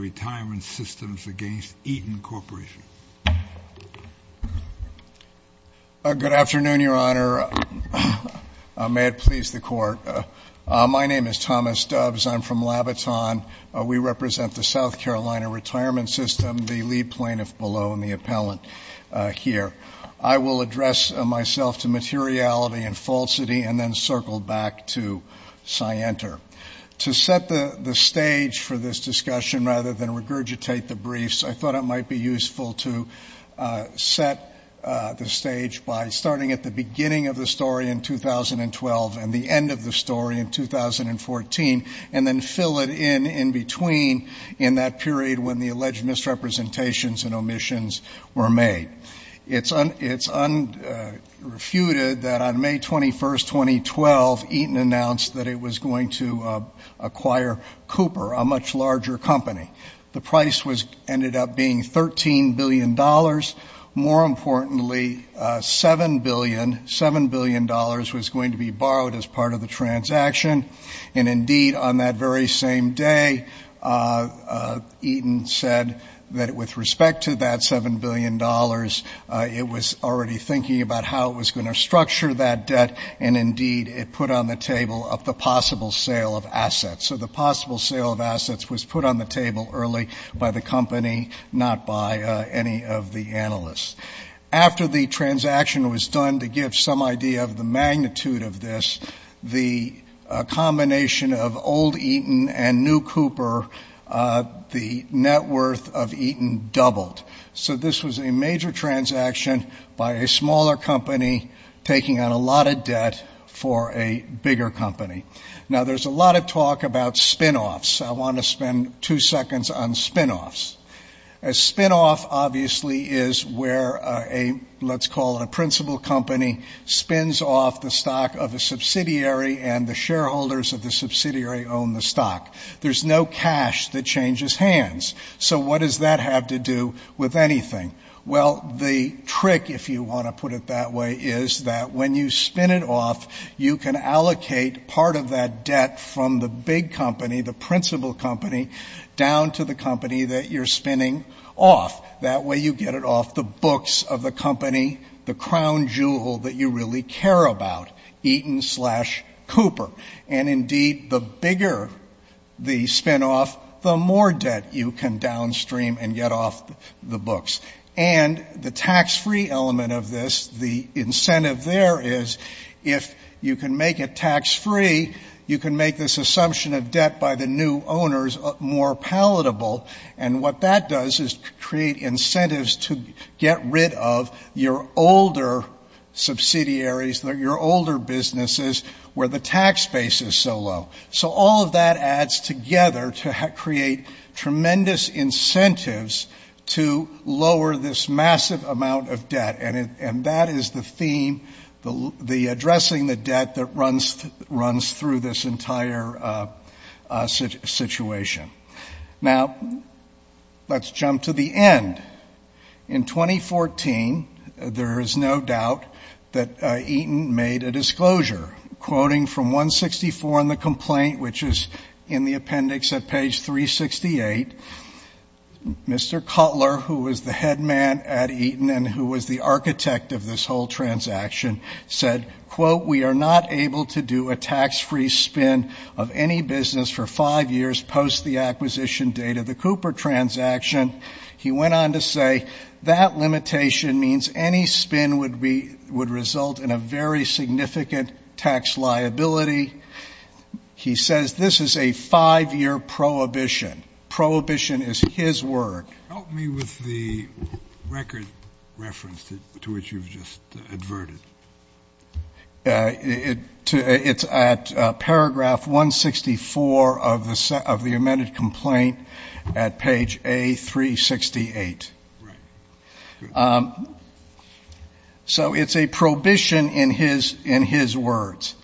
Good afternoon, Your Honor. May it please the Court. My name is Thomas Doves. I'm from Labaton. We represent the South Carolina Retirement System, the lead plaintiff below and the appellant here. I will address myself to materiality and falsity and then circle back to Scienter. To set the stage for this discussion rather than regurgitate the briefs, I thought it might be useful to set the stage by starting at the beginning of the story in 2012 and the end of the story in 2014 and then fill it in in between in that period when the alleged misrepresentations and omissions were made. It's unrefuted that on May 21, 2012, Eaton announced that it was going to acquire Cooper, a much larger company. The price ended up being $13 billion. More importantly, $7 billion was going to be borrowed as part of the transaction. And indeed, on that very same day, Eaton said that with respect to that $7 billion, it was already thinking about how it was going to So the possible sale of assets was put on the table early by the company, not by any of the analysts. After the transaction was done to give some idea of the magnitude of this, the combination of old Eaton and new Cooper, the net worth of Eaton doubled. So this was a major transaction by a smaller company taking on a lot of debt for a bigger company. Now, there's a lot of talk about spinoffs. I want to spend two seconds on spinoffs. A spinoff obviously is where a, let's call it a principal company, spins off the stock of a subsidiary and the shareholders of the subsidiary own the stock. There's no cash that changes hands. So what does that have to do with Well, the trick, if you want to put it that way, is that when you spin it off, you can allocate part of that debt from the big company, the principal company, down to the company that you're spinning off. That way you get it off the books of the company, the crown jewel that you really care about, Eaton slash Cooper. And indeed, the bigger the spinoff, the more debt you can get off the books. And the tax-free element of this, the incentive there is if you can make it tax-free, you can make this assumption of debt by the new owners more palatable. And what that does is create incentives to get rid of your older subsidiaries, your older businesses where the tax base is so low. So all of that adds together to create tremendous incentives to lower this massive amount of debt. And that is the theme, addressing the debt that runs through this entire situation. Now, let's jump to the end. In 2014, there is no doubt that Eaton made a disclosure quoting from 164 in the complaint, which is in the appendix at page 368. Mr. Cutler, who was the head man at Eaton and who was the architect of this whole transaction, said, quote, we are not able to do a tax-free spin of any business for five years post the acquisition date of the Cooper transaction. He went on to say that limitation means any spin would result in a very significant tax liability. He says this is a five-year prohibition. Prohibition is his word. Help me with the record reference to which you've just adverted. It's at paragraph 164 of the amended complaint at page A368. Right. So it's a prohibition in his words.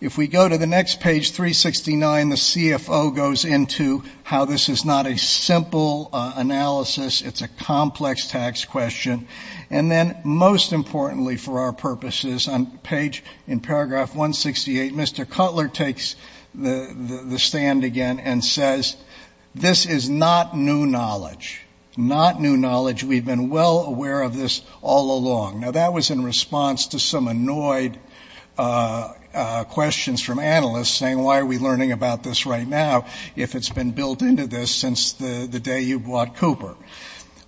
If we go to the next page, 369, the CFO goes into how this is not a simple analysis. It's a complex tax question. And then most importantly, for our purposes, on page in paragraph 168, Mr. Cutler takes the stand again and says, this is not new knowledge. Not new knowledge. We've been well aware of this all along. Now, that was in response to some annoyed questions from analysts saying, why are we learning about this right now if it's been built into this since the day you bought Cooper?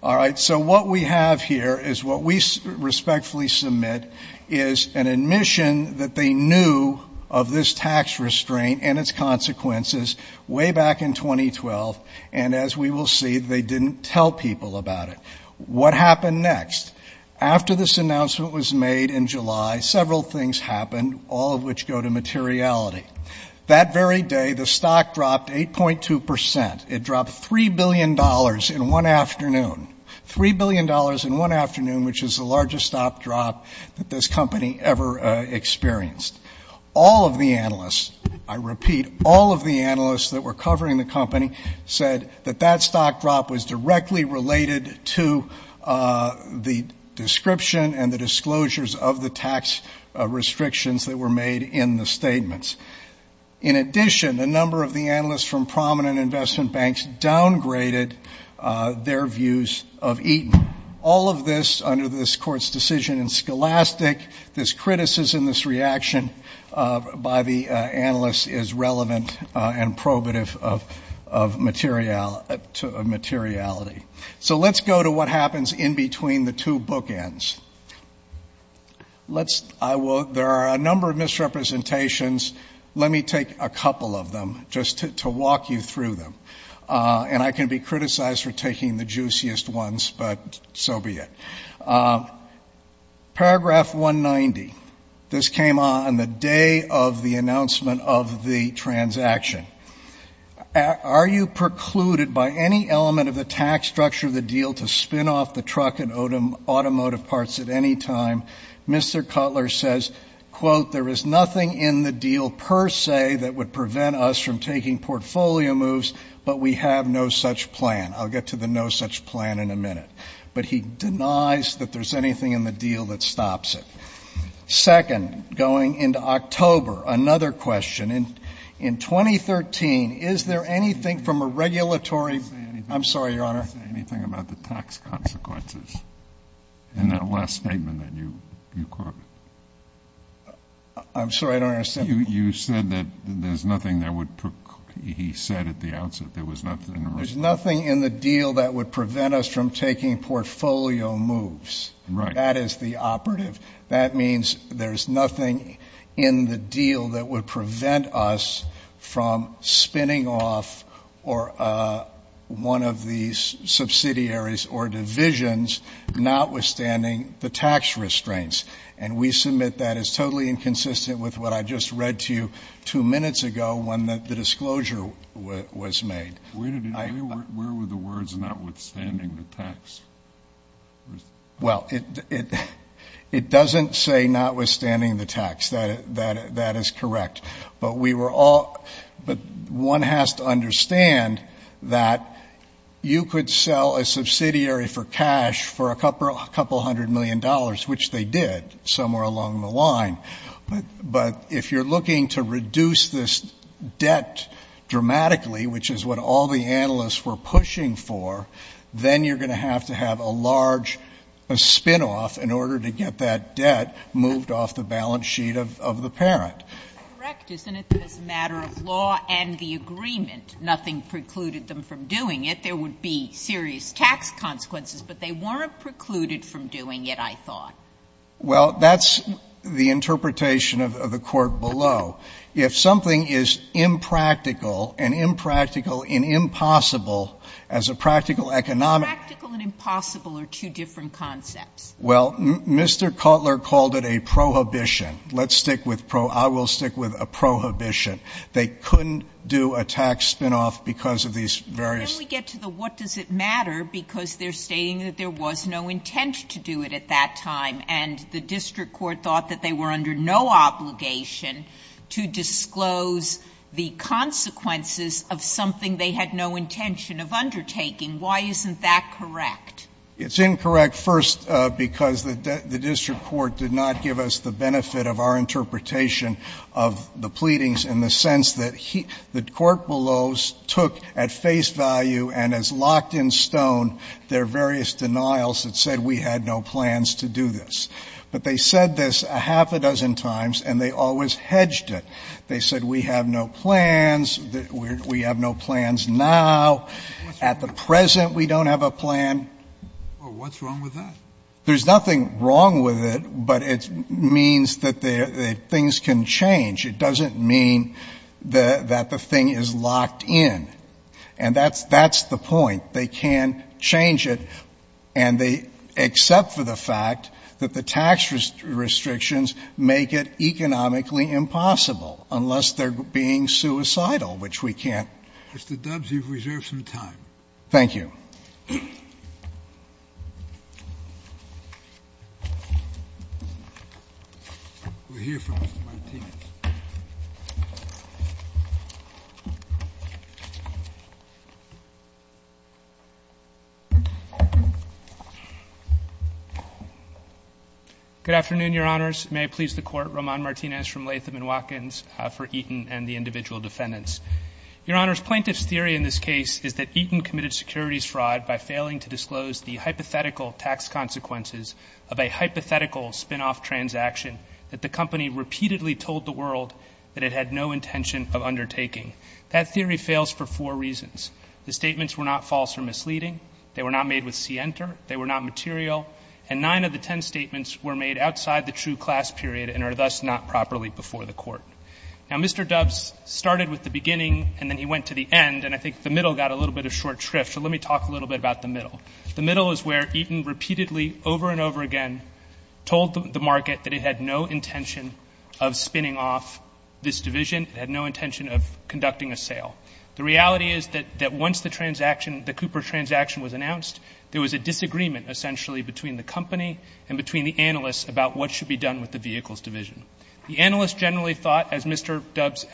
All right. So what we have here is what we respectfully submit is an admission that they knew of this tax restraint and its consequences way back in 2012. And as we will see, they didn't tell people about it. What happened next? After this announcement was made in July, several things happened, all of which go to materiality. That very day, the stock dropped 8.2 percent. It dropped $3 billion in one afternoon. $3 billion in one afternoon, which is the largest stock drop that this company ever experienced. All of the analysts, I repeat, all of the analysts that were covering the company said that that stock drop was directly related to the description and the disclosures of the tax restrictions that were made in the statements. In addition, a number of the analysts from prominent investment banks downgraded their views of Eaton. All of this under this Court's decision in Scholastic, this criticism, this reaction by the analysts is relevant and probative of materiality. So let's go to what happens in between the two bookends. There are a number of misrepresentations. Let me take a couple of them just to walk you through them. And I can be criticized for taking the juiciest ones, but so be it. Paragraph 190, this came on the day of the announcement of the transaction. Are you precluded by any element of the tax structure of the deal to spin off the truck and automotive parts at any time? Mr. Cutler says, quote, there is nothing in the deal per se that would prevent us from taking portfolio moves, but we have no such plan. I'll get to the no such plan in a minute. But he denies that there's anything in the deal that stops it. Second, going into October, another question. In 2013, is there anything from a regulatory I'm sorry, Your Honor. Anything about the tax consequences in that last statement that you there's nothing that he said at the outset. There was nothing. There's nothing in the deal that would prevent us from taking portfolio moves. Right. That is the operative. That means there's nothing in the deal that would prevent us from spinning off or one of these subsidiaries or divisions, notwithstanding the tax restraints. And we submit that is totally inconsistent with what I just read to you two minutes ago when the disclosure was made. Where were the words notwithstanding the tax? Well, it it it doesn't say notwithstanding the tax that that that is correct. But we were all but one has to understand that you could sell a subsidiary for cash for a couple hundred million dollars, which they did somewhere along the line. But if you're looking to reduce this debt dramatically, which is what all the analysts were pushing for, then you're going to have to have a large a spinoff in order to get that debt moved off the balance sheet of the parent. That's correct, isn't it? That is a matter of law and the agreement. Nothing precluded them from doing it. There would be serious tax consequences, but they weren't precluded from doing it, I thought. Well, that's the interpretation of the court below. If something is impractical and impractical and impossible as a practical economic. Practical and impossible are two different concepts. Well, Mr. Cutler called it a prohibition. Let's stick with pro. I will stick with a prohibition. They couldn't do a tax spinoff because of these various. We get to the what does it matter because they're stating that there was no intent to do it at that time and the district court thought that they were under no obligation to disclose the consequences of something they had no intention of undertaking. Why isn't that correct? It's incorrect. First, because the district court did not give us the benefit of our And as locked in stone, there are various denials that said we had no plans to do this. But they said this a half a dozen times and they always hedged it. They said we have no plans. We have no plans now. At the present, we don't have a plan. Well, what's wrong with that? There's nothing wrong with it, but it means that things can change. It doesn't mean that the thing is locked in. And that's the point. They can change it and they accept for the fact that the tax restrictions make it economically impossible unless they're being suicidal, which we can't. Mr. Dubs, you've reserved some time. Thank you. We're here for Mr. Martinez. Good afternoon, Your Honors. May I please the Court, Roman Martinez from Latham & Watkins for Eaton and the individual defendants. Your Honors, plaintiff's theory in this case is that Eaton committed securities fraud by failing to disclose the hypothetical tax consequences of a hypothetical spinoff transaction that the company repeatedly told the world that it had no intention of undertaking. That theory fails for four reasons. The statements were not false or misleading. They were not made with scienter. They were not material. And nine of the ten statements were made outside the true class period and are thus not properly before the Court. Now, Mr. Dubs started with the beginning and then he went to the end, and I think the middle got a little bit of short shrift, so let me talk a little bit about the middle. The middle is where Eaton repeatedly, over and over again, told the market that it had no intention of spinning off this division. It had no intention of conducting a sale. The reality is that once the transaction, the Cooper transaction was announced, there was a disagreement essentially between the company and between the analysts about what should be done with the vehicles division. The analysts generally thought, as Mr. Dubs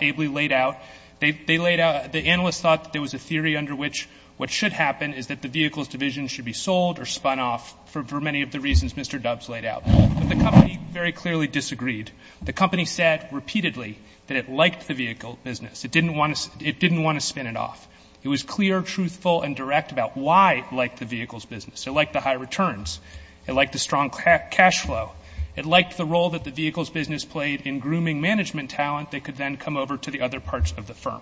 ably laid out, they laid out, the analysts thought that there was a theory under which what should happen is that the vehicles division should be sold or spun off for many of the reasons Mr. Dubs laid out. But the company very clearly disagreed. The company said repeatedly that it liked the vehicle business. It didn't want to spin it off. It was clear, truthful, and direct about why it liked the vehicles business. It liked the high returns. It liked the strong cash flow. It liked the role that the vehicles business played in grooming management talent that could then come over to the other parts of the firm.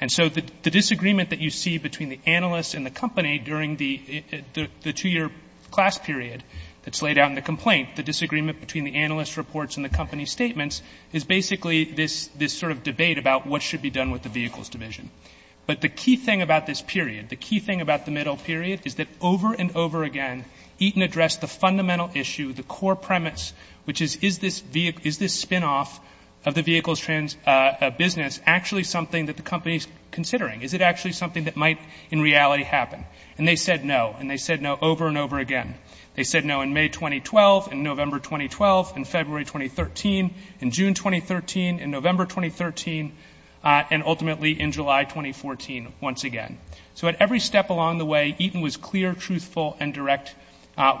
And so the disagreement that you see between the analysts and the company during the two-year class period that's laid out in the complaint, the disagreement between the analyst reports and the company statements, is basically this sort of debate about what should be done with the vehicles division. But the key thing about this period, the key thing about the middle period is that over and over again Eaton addressed the fundamental issue, the core premise, which is, is this spin-off of the vehicles business actually something that the company is considering? Is it actually something that might in reality happen? And they said no. And they said no over and over again. They said no in May 2012, in November 2012, in February 2013, in June 2013, in November 2013, and ultimately in July 2014 once again. So at every step along the way, Eaton was clear, truthful, and direct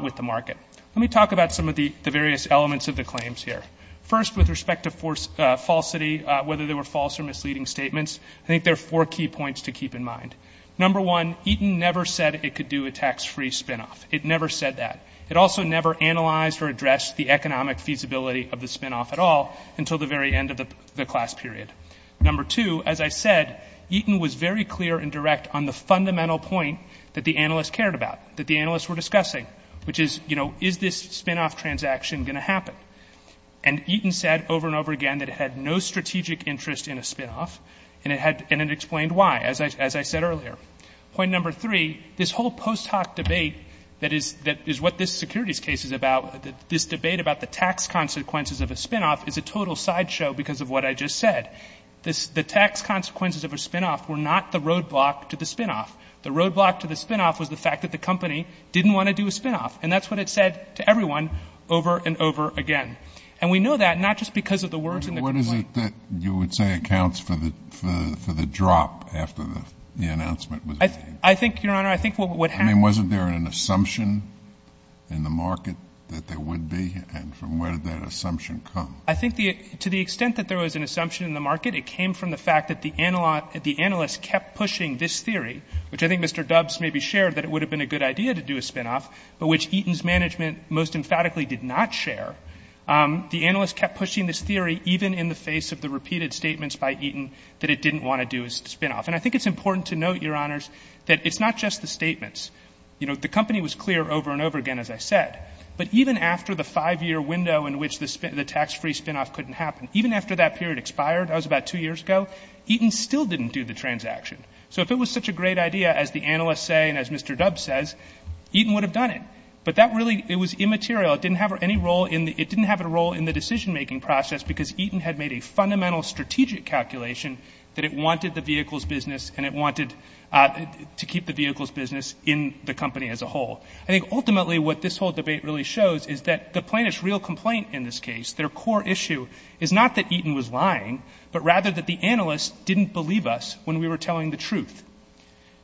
with the market. Let me talk about some of the various elements of the claims here. First, with respect to falsity, whether they were false or misleading statements, I think there are four key points to keep in mind. Number one, Eaton never said it could do a tax-free spin-off. It never said that. It also never analyzed or addressed the economic feasibility of the spin-off at all until the very end of the class period. Number two, as I said, Eaton was very clear and direct on the fundamental point that the analysts cared about, that the analysts were discussing, which is, you know, is this spin-off transaction going to happen? And Eaton said over and over again that it had no strategic interest in a spin-off, and it had, and it had, as I said earlier. Point number three, this whole post hoc debate that is what this securities case is about, this debate about the tax consequences of a spin-off is a total sideshow because of what I just said. The tax consequences of a spin-off were not the roadblock to the spin-off. The roadblock to the spin-off was the fact that the company didn't want to do a spin-off, and that's what it said to everyone over and over again. And we know that not just because of the words in the complaint. You would say accounts for the, for the drop after the announcement was made. I think, Your Honor, I think what would happen. I mean, wasn't there an assumption in the market that there would be? And from where did that assumption come? I think the, to the extent that there was an assumption in the market, it came from the fact that the analyst kept pushing this theory, which I think Mr. Dubbs maybe shared that it would have been a good idea to do a spin-off, but which Eaton's management most emphatically did not share, the analyst kept pushing this theory even in the face of the repeated statements by Eaton that it didn't want to do a spin-off. And I think it's important to note, Your Honors, that it's not just the statements. You know, the company was clear over and over again, as I said, but even after the five-year window in which the tax-free spin-off couldn't happen, even after that period expired, that was about two years ago, Eaton still didn't do the transaction. So if it was such a great idea, as the analyst say and as Mr. Dubbs says, Eaton would have done it. But that really, it was immaterial. It didn't have any role in the, it didn't have a role in the decision-making process because Eaton had made a fundamental strategic calculation that it wanted the vehicle's business and it wanted to keep the vehicle's business in the company as a whole. I think ultimately what this whole debate really shows is that the plaintiff's real complaint in this case, their core issue, is not that Eaton was lying, but rather that the analyst didn't believe us when we were telling the truth.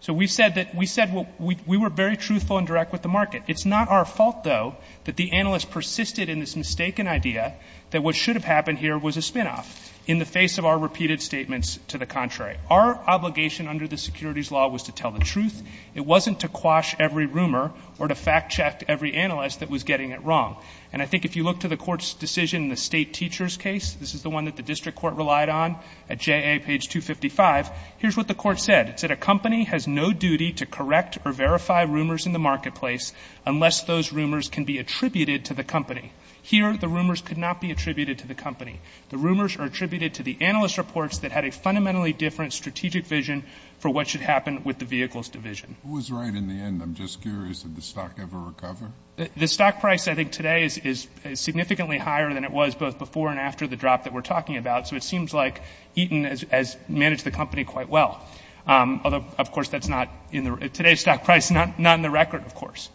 So we said that, we said we were very truthful and direct with the market. It's not our fault, though, that the analyst persisted in this mistaken idea that what should have happened here was a spin-off in the face of our repeated statements to the contrary. Our obligation under the securities law was to tell the truth. It wasn't to quash every rumor or to fact-check every analyst that was getting it wrong. And I think if you look to the court's decision in the state teacher's case, this is the one that the district court relied on at JA page 255, here's what the court said. A company has no duty to correct or verify rumors in the marketplace unless those rumors can be attributed to the company. Here, the rumors could not be attributed to the company. The rumors are attributed to the analyst reports that had a fundamentally different strategic vision for what should happen with the vehicles division. Who was right in the end? I'm just curious, did the stock ever recover? The stock price I think today is significantly higher than it was both before and after the drop that we're talking about. So it seems like Eaton has managed the company quite well. Although, of course, that's not in the, today's stock price is not in the record, of course.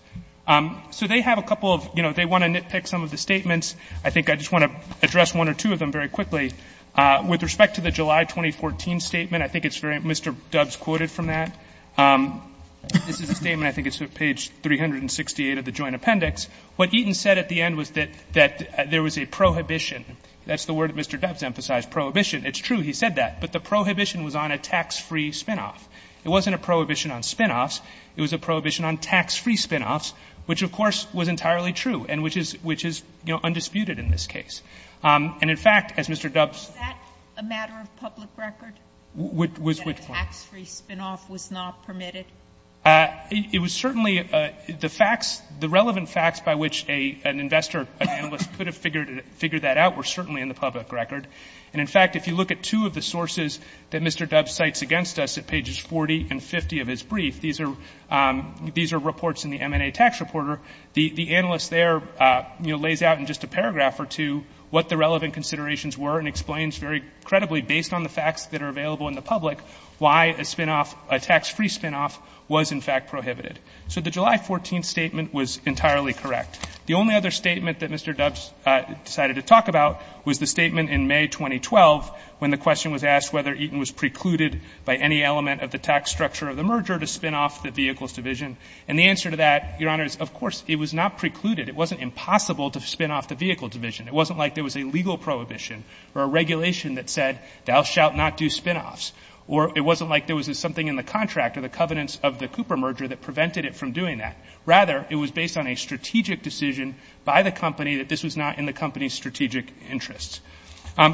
So they have a couple of, you know, they want to nitpick some of the statements. I think I just want to address one or two of them very quickly. With respect to the July 2014 statement, I think it's very, Mr. Dubs quoted from that. This is a statement, I think it's page 368 of the joint appendix. What Eaton said at the end was that there was a prohibition. That's the word that Mr. Dubs emphasized, prohibition. It's true, he said that. But the prohibition was on a tax-free spinoff. It wasn't a prohibition on spinoffs. It was a prohibition on tax-free spinoffs, which, of course, was entirely true and which is, which is, you know, undisputed in this case. And in fact, as Mr. Dubs- Is that a matter of public record? Was which one? That a tax-free spinoff was not permitted? It was certainly, the facts, the relevant facts by which an investor, an analyst could have figured that out were certainly in the public record. And in fact, if you look at two of the sources that Mr. Dubs cites against us at pages 40 and 50 of his brief, these are, these are reports in the M&A Tax Reporter. The analyst there, you know, lays out in just a paragraph or two what the relevant considerations were and explains very credibly, based on the facts that are available in the public, why a spinoff, a tax-free spinoff was, in fact, prohibited. So the July 14th statement was entirely correct. The only other statement that Mr. Dubs decided to talk about was the statement in May 2012 when the question was asked whether Eaton was precluded by any element of the tax structure of the merger to spinoff the Vehicles Division. And the answer to that, Your Honors, of course, it was not precluded. It wasn't impossible to spinoff the Vehicle Division. It wasn't like there was a legal prohibition or a regulation that said, thou shalt not do spinoffs. Or it wasn't like there was something in the contract or the covenants of the Cooper merger that prevented it from doing that. Rather, it was based on a strategic decision by the company that this was not in the company's strategic interests.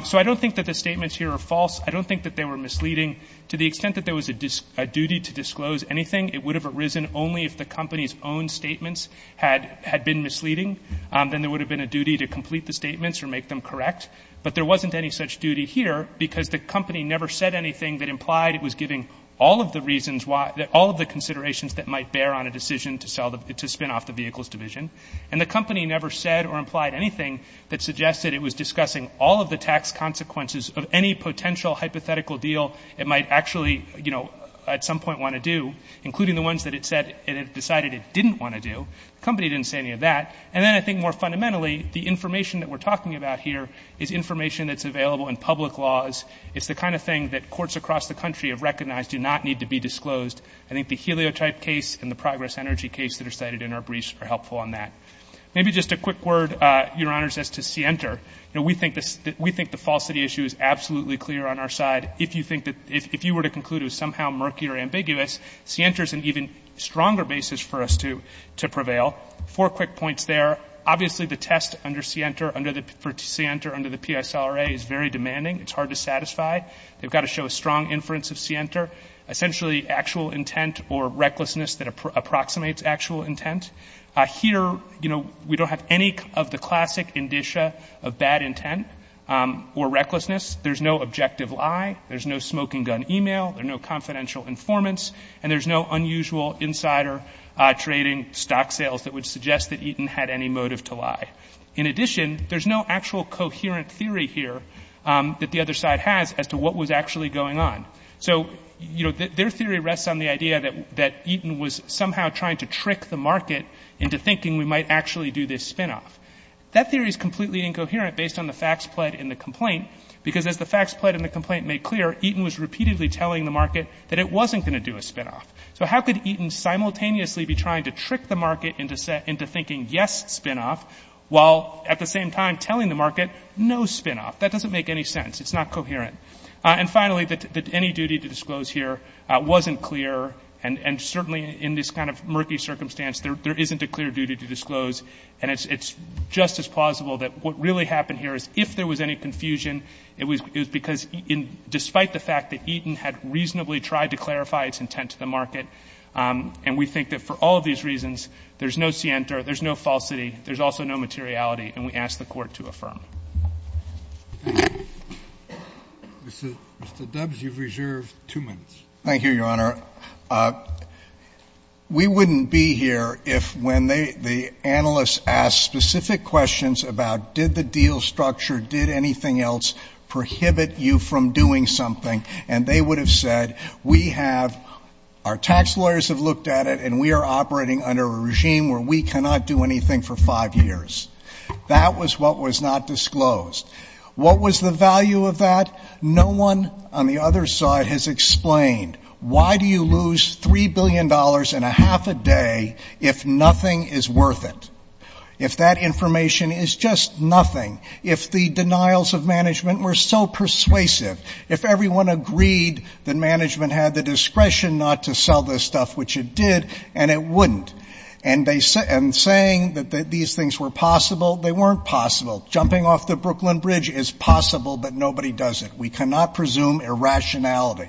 So I don't think that the statements here are false. I don't think that they were misleading. To the extent that there was a duty to disclose anything, it would have arisen only if the company's own statements had been misleading. Then there would have been a duty to complete the statements or make them correct. But there wasn't any such duty here because the company never said anything that implied it was giving all of the reasons why, all of the considerations that might bear on a to spinoff the Vehicles Division. And the company never said or implied anything that suggested it was discussing all of the tax consequences of any potential hypothetical deal it might actually, you know, at some point want to do, including the ones that it said it decided it didn't want to do. The company didn't say any of that. And then I think more fundamentally, the information that we're talking about here is information that's available in public laws. It's the kind of thing that courts across the country have recognized do not need to be disclosed. I think the heliotype case and the progress energy case that are cited in our briefs are helpful on that. Maybe just a quick word, Your Honors, as to Sienter. You know, we think the falsity issue is absolutely clear on our side. If you think that, if you were to conclude it was somehow murky or ambiguous, Sienter is an even stronger basis for us to prevail. Four quick points there. Obviously, the test under Sienter, under the PSLRA is very demanding. It's hard to satisfy. They've got to show a strong inference of Sienter. Essentially, actual intent or recklessness that approximates actual intent. Here, you know, we don't have any of the classic indicia of bad intent or recklessness. There's no objective lie. There's no smoking gun email. There's no confidential informants. And there's no unusual insider trading stock sales that would suggest that Eaton had any motive to lie. In addition, there's no actual coherent theory here that the other side has as to what was actually going on. So, you know, their theory rests on the idea that Eaton was somehow trying to trick the market into thinking we might actually do this spinoff. That theory is completely incoherent based on the facts pled in the complaint, because as the facts pled in the complaint made clear, Eaton was repeatedly telling the market that it wasn't going to do a spinoff. So how could Eaton simultaneously be trying to trick the market into thinking, yes, spinoff, while at the same time telling the market, no spinoff? That doesn't make any sense. It's not coherent. And finally, that any duty to disclose here wasn't clear, and certainly in this kind of murky circumstance, there isn't a clear duty to disclose. And it's just as plausible that what really happened here is if there was any confusion, it was because despite the fact that Eaton had reasonably tried to clarify its intent to the market, and we think that for all of these reasons, there's no scienter, there's no falsity, there's also no materiality, and we ask the Court to affirm. Mr. Dubs, you've reserved two minutes. Thank you, Your Honor. We wouldn't be here if when the analysts asked specific questions about did the deal structure, did anything else prohibit you from doing something, and they would have said, we have, our tax lawyers have looked at it, and we are operating under a regime where we cannot do anything for five years. That was what was not disclosed. What was the value of that? No one on the other side has explained why do you lose $3 billion and a half a day if nothing is worth it, if that information is just nothing, if the denials of management were so persuasive, if everyone agreed that management had the discretion not to sell this stuff, which it did, and it wouldn't. And saying that these things were possible, they weren't possible. Jumping off the Brooklyn Bridge is possible, but nobody does it. We cannot presume irrationality.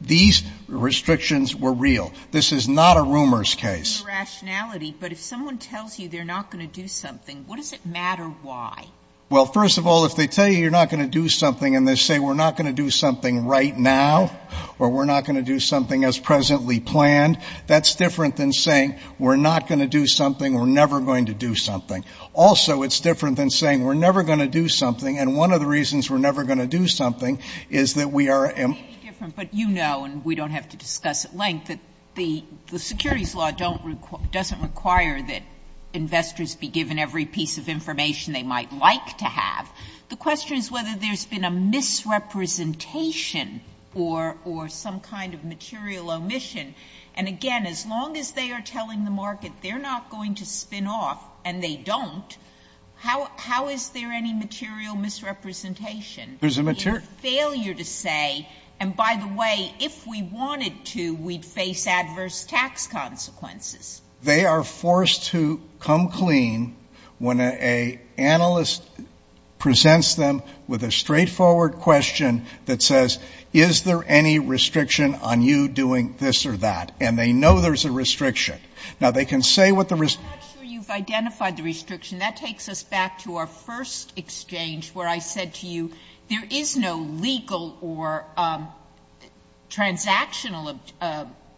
These restrictions were real. This is not a rumors case. Irrationality. But if someone tells you they're not going to do something, what does it matter why? Well, first of all, if they tell you you're not going to do something and they say we're not going to do something right now, or we're not going to do something as presently planned, that's different than saying we're not going to do something, we're never going to do something. Also, it's different than saying we're never going to do something, and one of the reasons we're never going to do something is that we are. It may be different, but you know, and we don't have to discuss at length, that the securities law doesn't require that investors be given every piece of information they might like to have. The question is whether there's been a misrepresentation or some kind of material omission. And again, as long as they are telling the market they're not going to spin off and they don't, how is there any material misrepresentation? There's a material Failure to say, and by the way, if we wanted to, we'd face adverse tax consequences. They are forced to come clean when an analyst presents them with a straightforward question that says, is there any restriction on you doing this or that? And they know there's a restriction. Now, they can say what the restriction you've identified the restriction, that takes us back to our first exchange where I said to you, there is no legal or transactional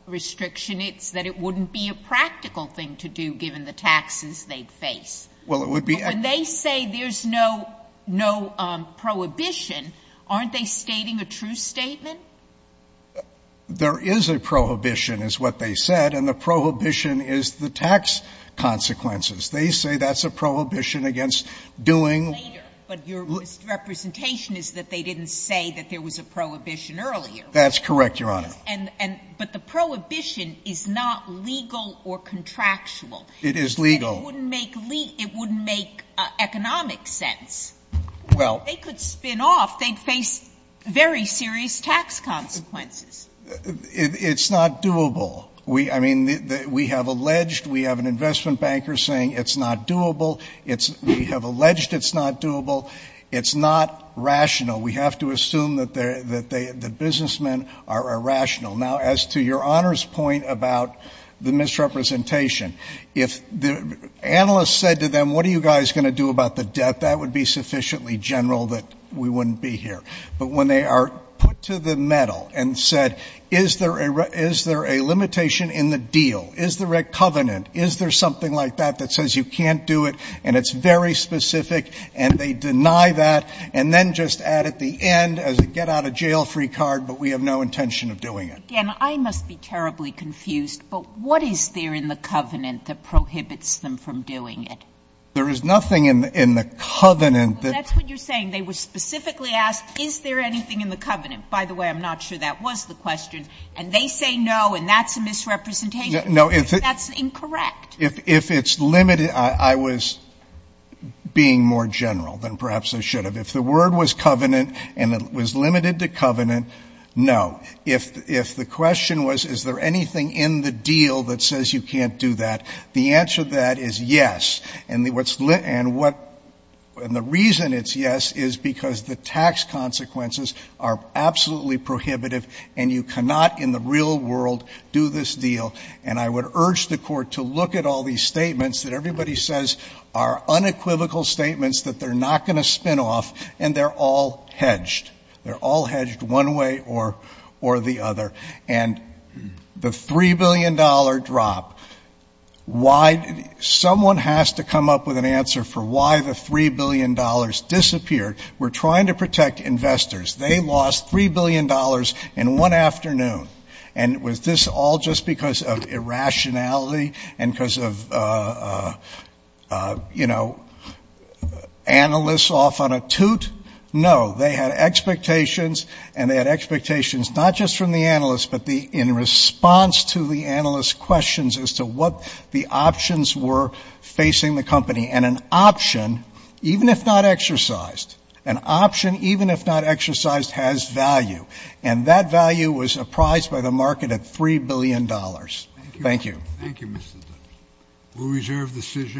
restriction. It's that it wouldn't be a practical thing to do, given the taxes they'd face. Well, it would be And they say there's no prohibition. Aren't they stating a true statement? There is a prohibition is what they said, and the prohibition is the tax consequences. They say that's a prohibition against doing Later, but your misrepresentation is that they didn't say that there was a prohibition earlier. That's correct, Your Honor. And, but the prohibition is not legal or contractual. It is legal. And it wouldn't make economic sense. Well If they could spin off, they'd face very serious tax consequences. It's not doable. We I mean, we have alleged we have an investment banker saying it's not doable. It's we have alleged it's not doable. It's not rational. We have to assume that they're that they the businessmen are irrational. Now, as to your honor's point about the misrepresentation, if the analysts said to them, what are you guys going to do about the debt? That would be sufficiently general that we wouldn't be here. But when they are put to the metal and said, is there a is there a limitation in the deal? Is the red covenant? Is there something like that that says you can't do it? And it's very specific. And they deny that. And then just add at the end as a get out of jail free card. But we have no intention of doing it. And I must be terribly confused. But what is there in the covenant that prohibits them from doing it? There is nothing in the covenant. That's what you're saying. They were specifically asked, is there anything in the covenant? By the way, I'm not sure that was the question. And they say no. And that's a misrepresentation. That's incorrect. If it's limited, I was being more general than perhaps I should have. If the word was covenant and it was limited to covenant, no. If the question was, is there anything in the deal that says you can't do that? The answer to that is yes. And the reason it's yes is because the tax consequences are absolutely prohibitive. And you cannot in the real world do this deal. And I would urge the Court to look at all these statements that everybody says are unequivocal statements that they're not going to spin off. And they're all hedged. They're all hedged one way or the other. And the $3 billion drop, someone has to come up with an answer for why the $3 billion disappeared. We're trying to protect investors. They lost $3 billion in one afternoon. And was this all just because of irrationality and because of, you know, analysts off on a toot? No. They had expectations, and they had expectations not just from the analysts, but in response to the analysts' questions as to what the options were facing the company. And an option, even if not exercised, an option, even if not exercised, has value. And that value was apprised by the market at $3 billion. Thank you. Thank you, Mr. Dunn. We'll reserve the decision.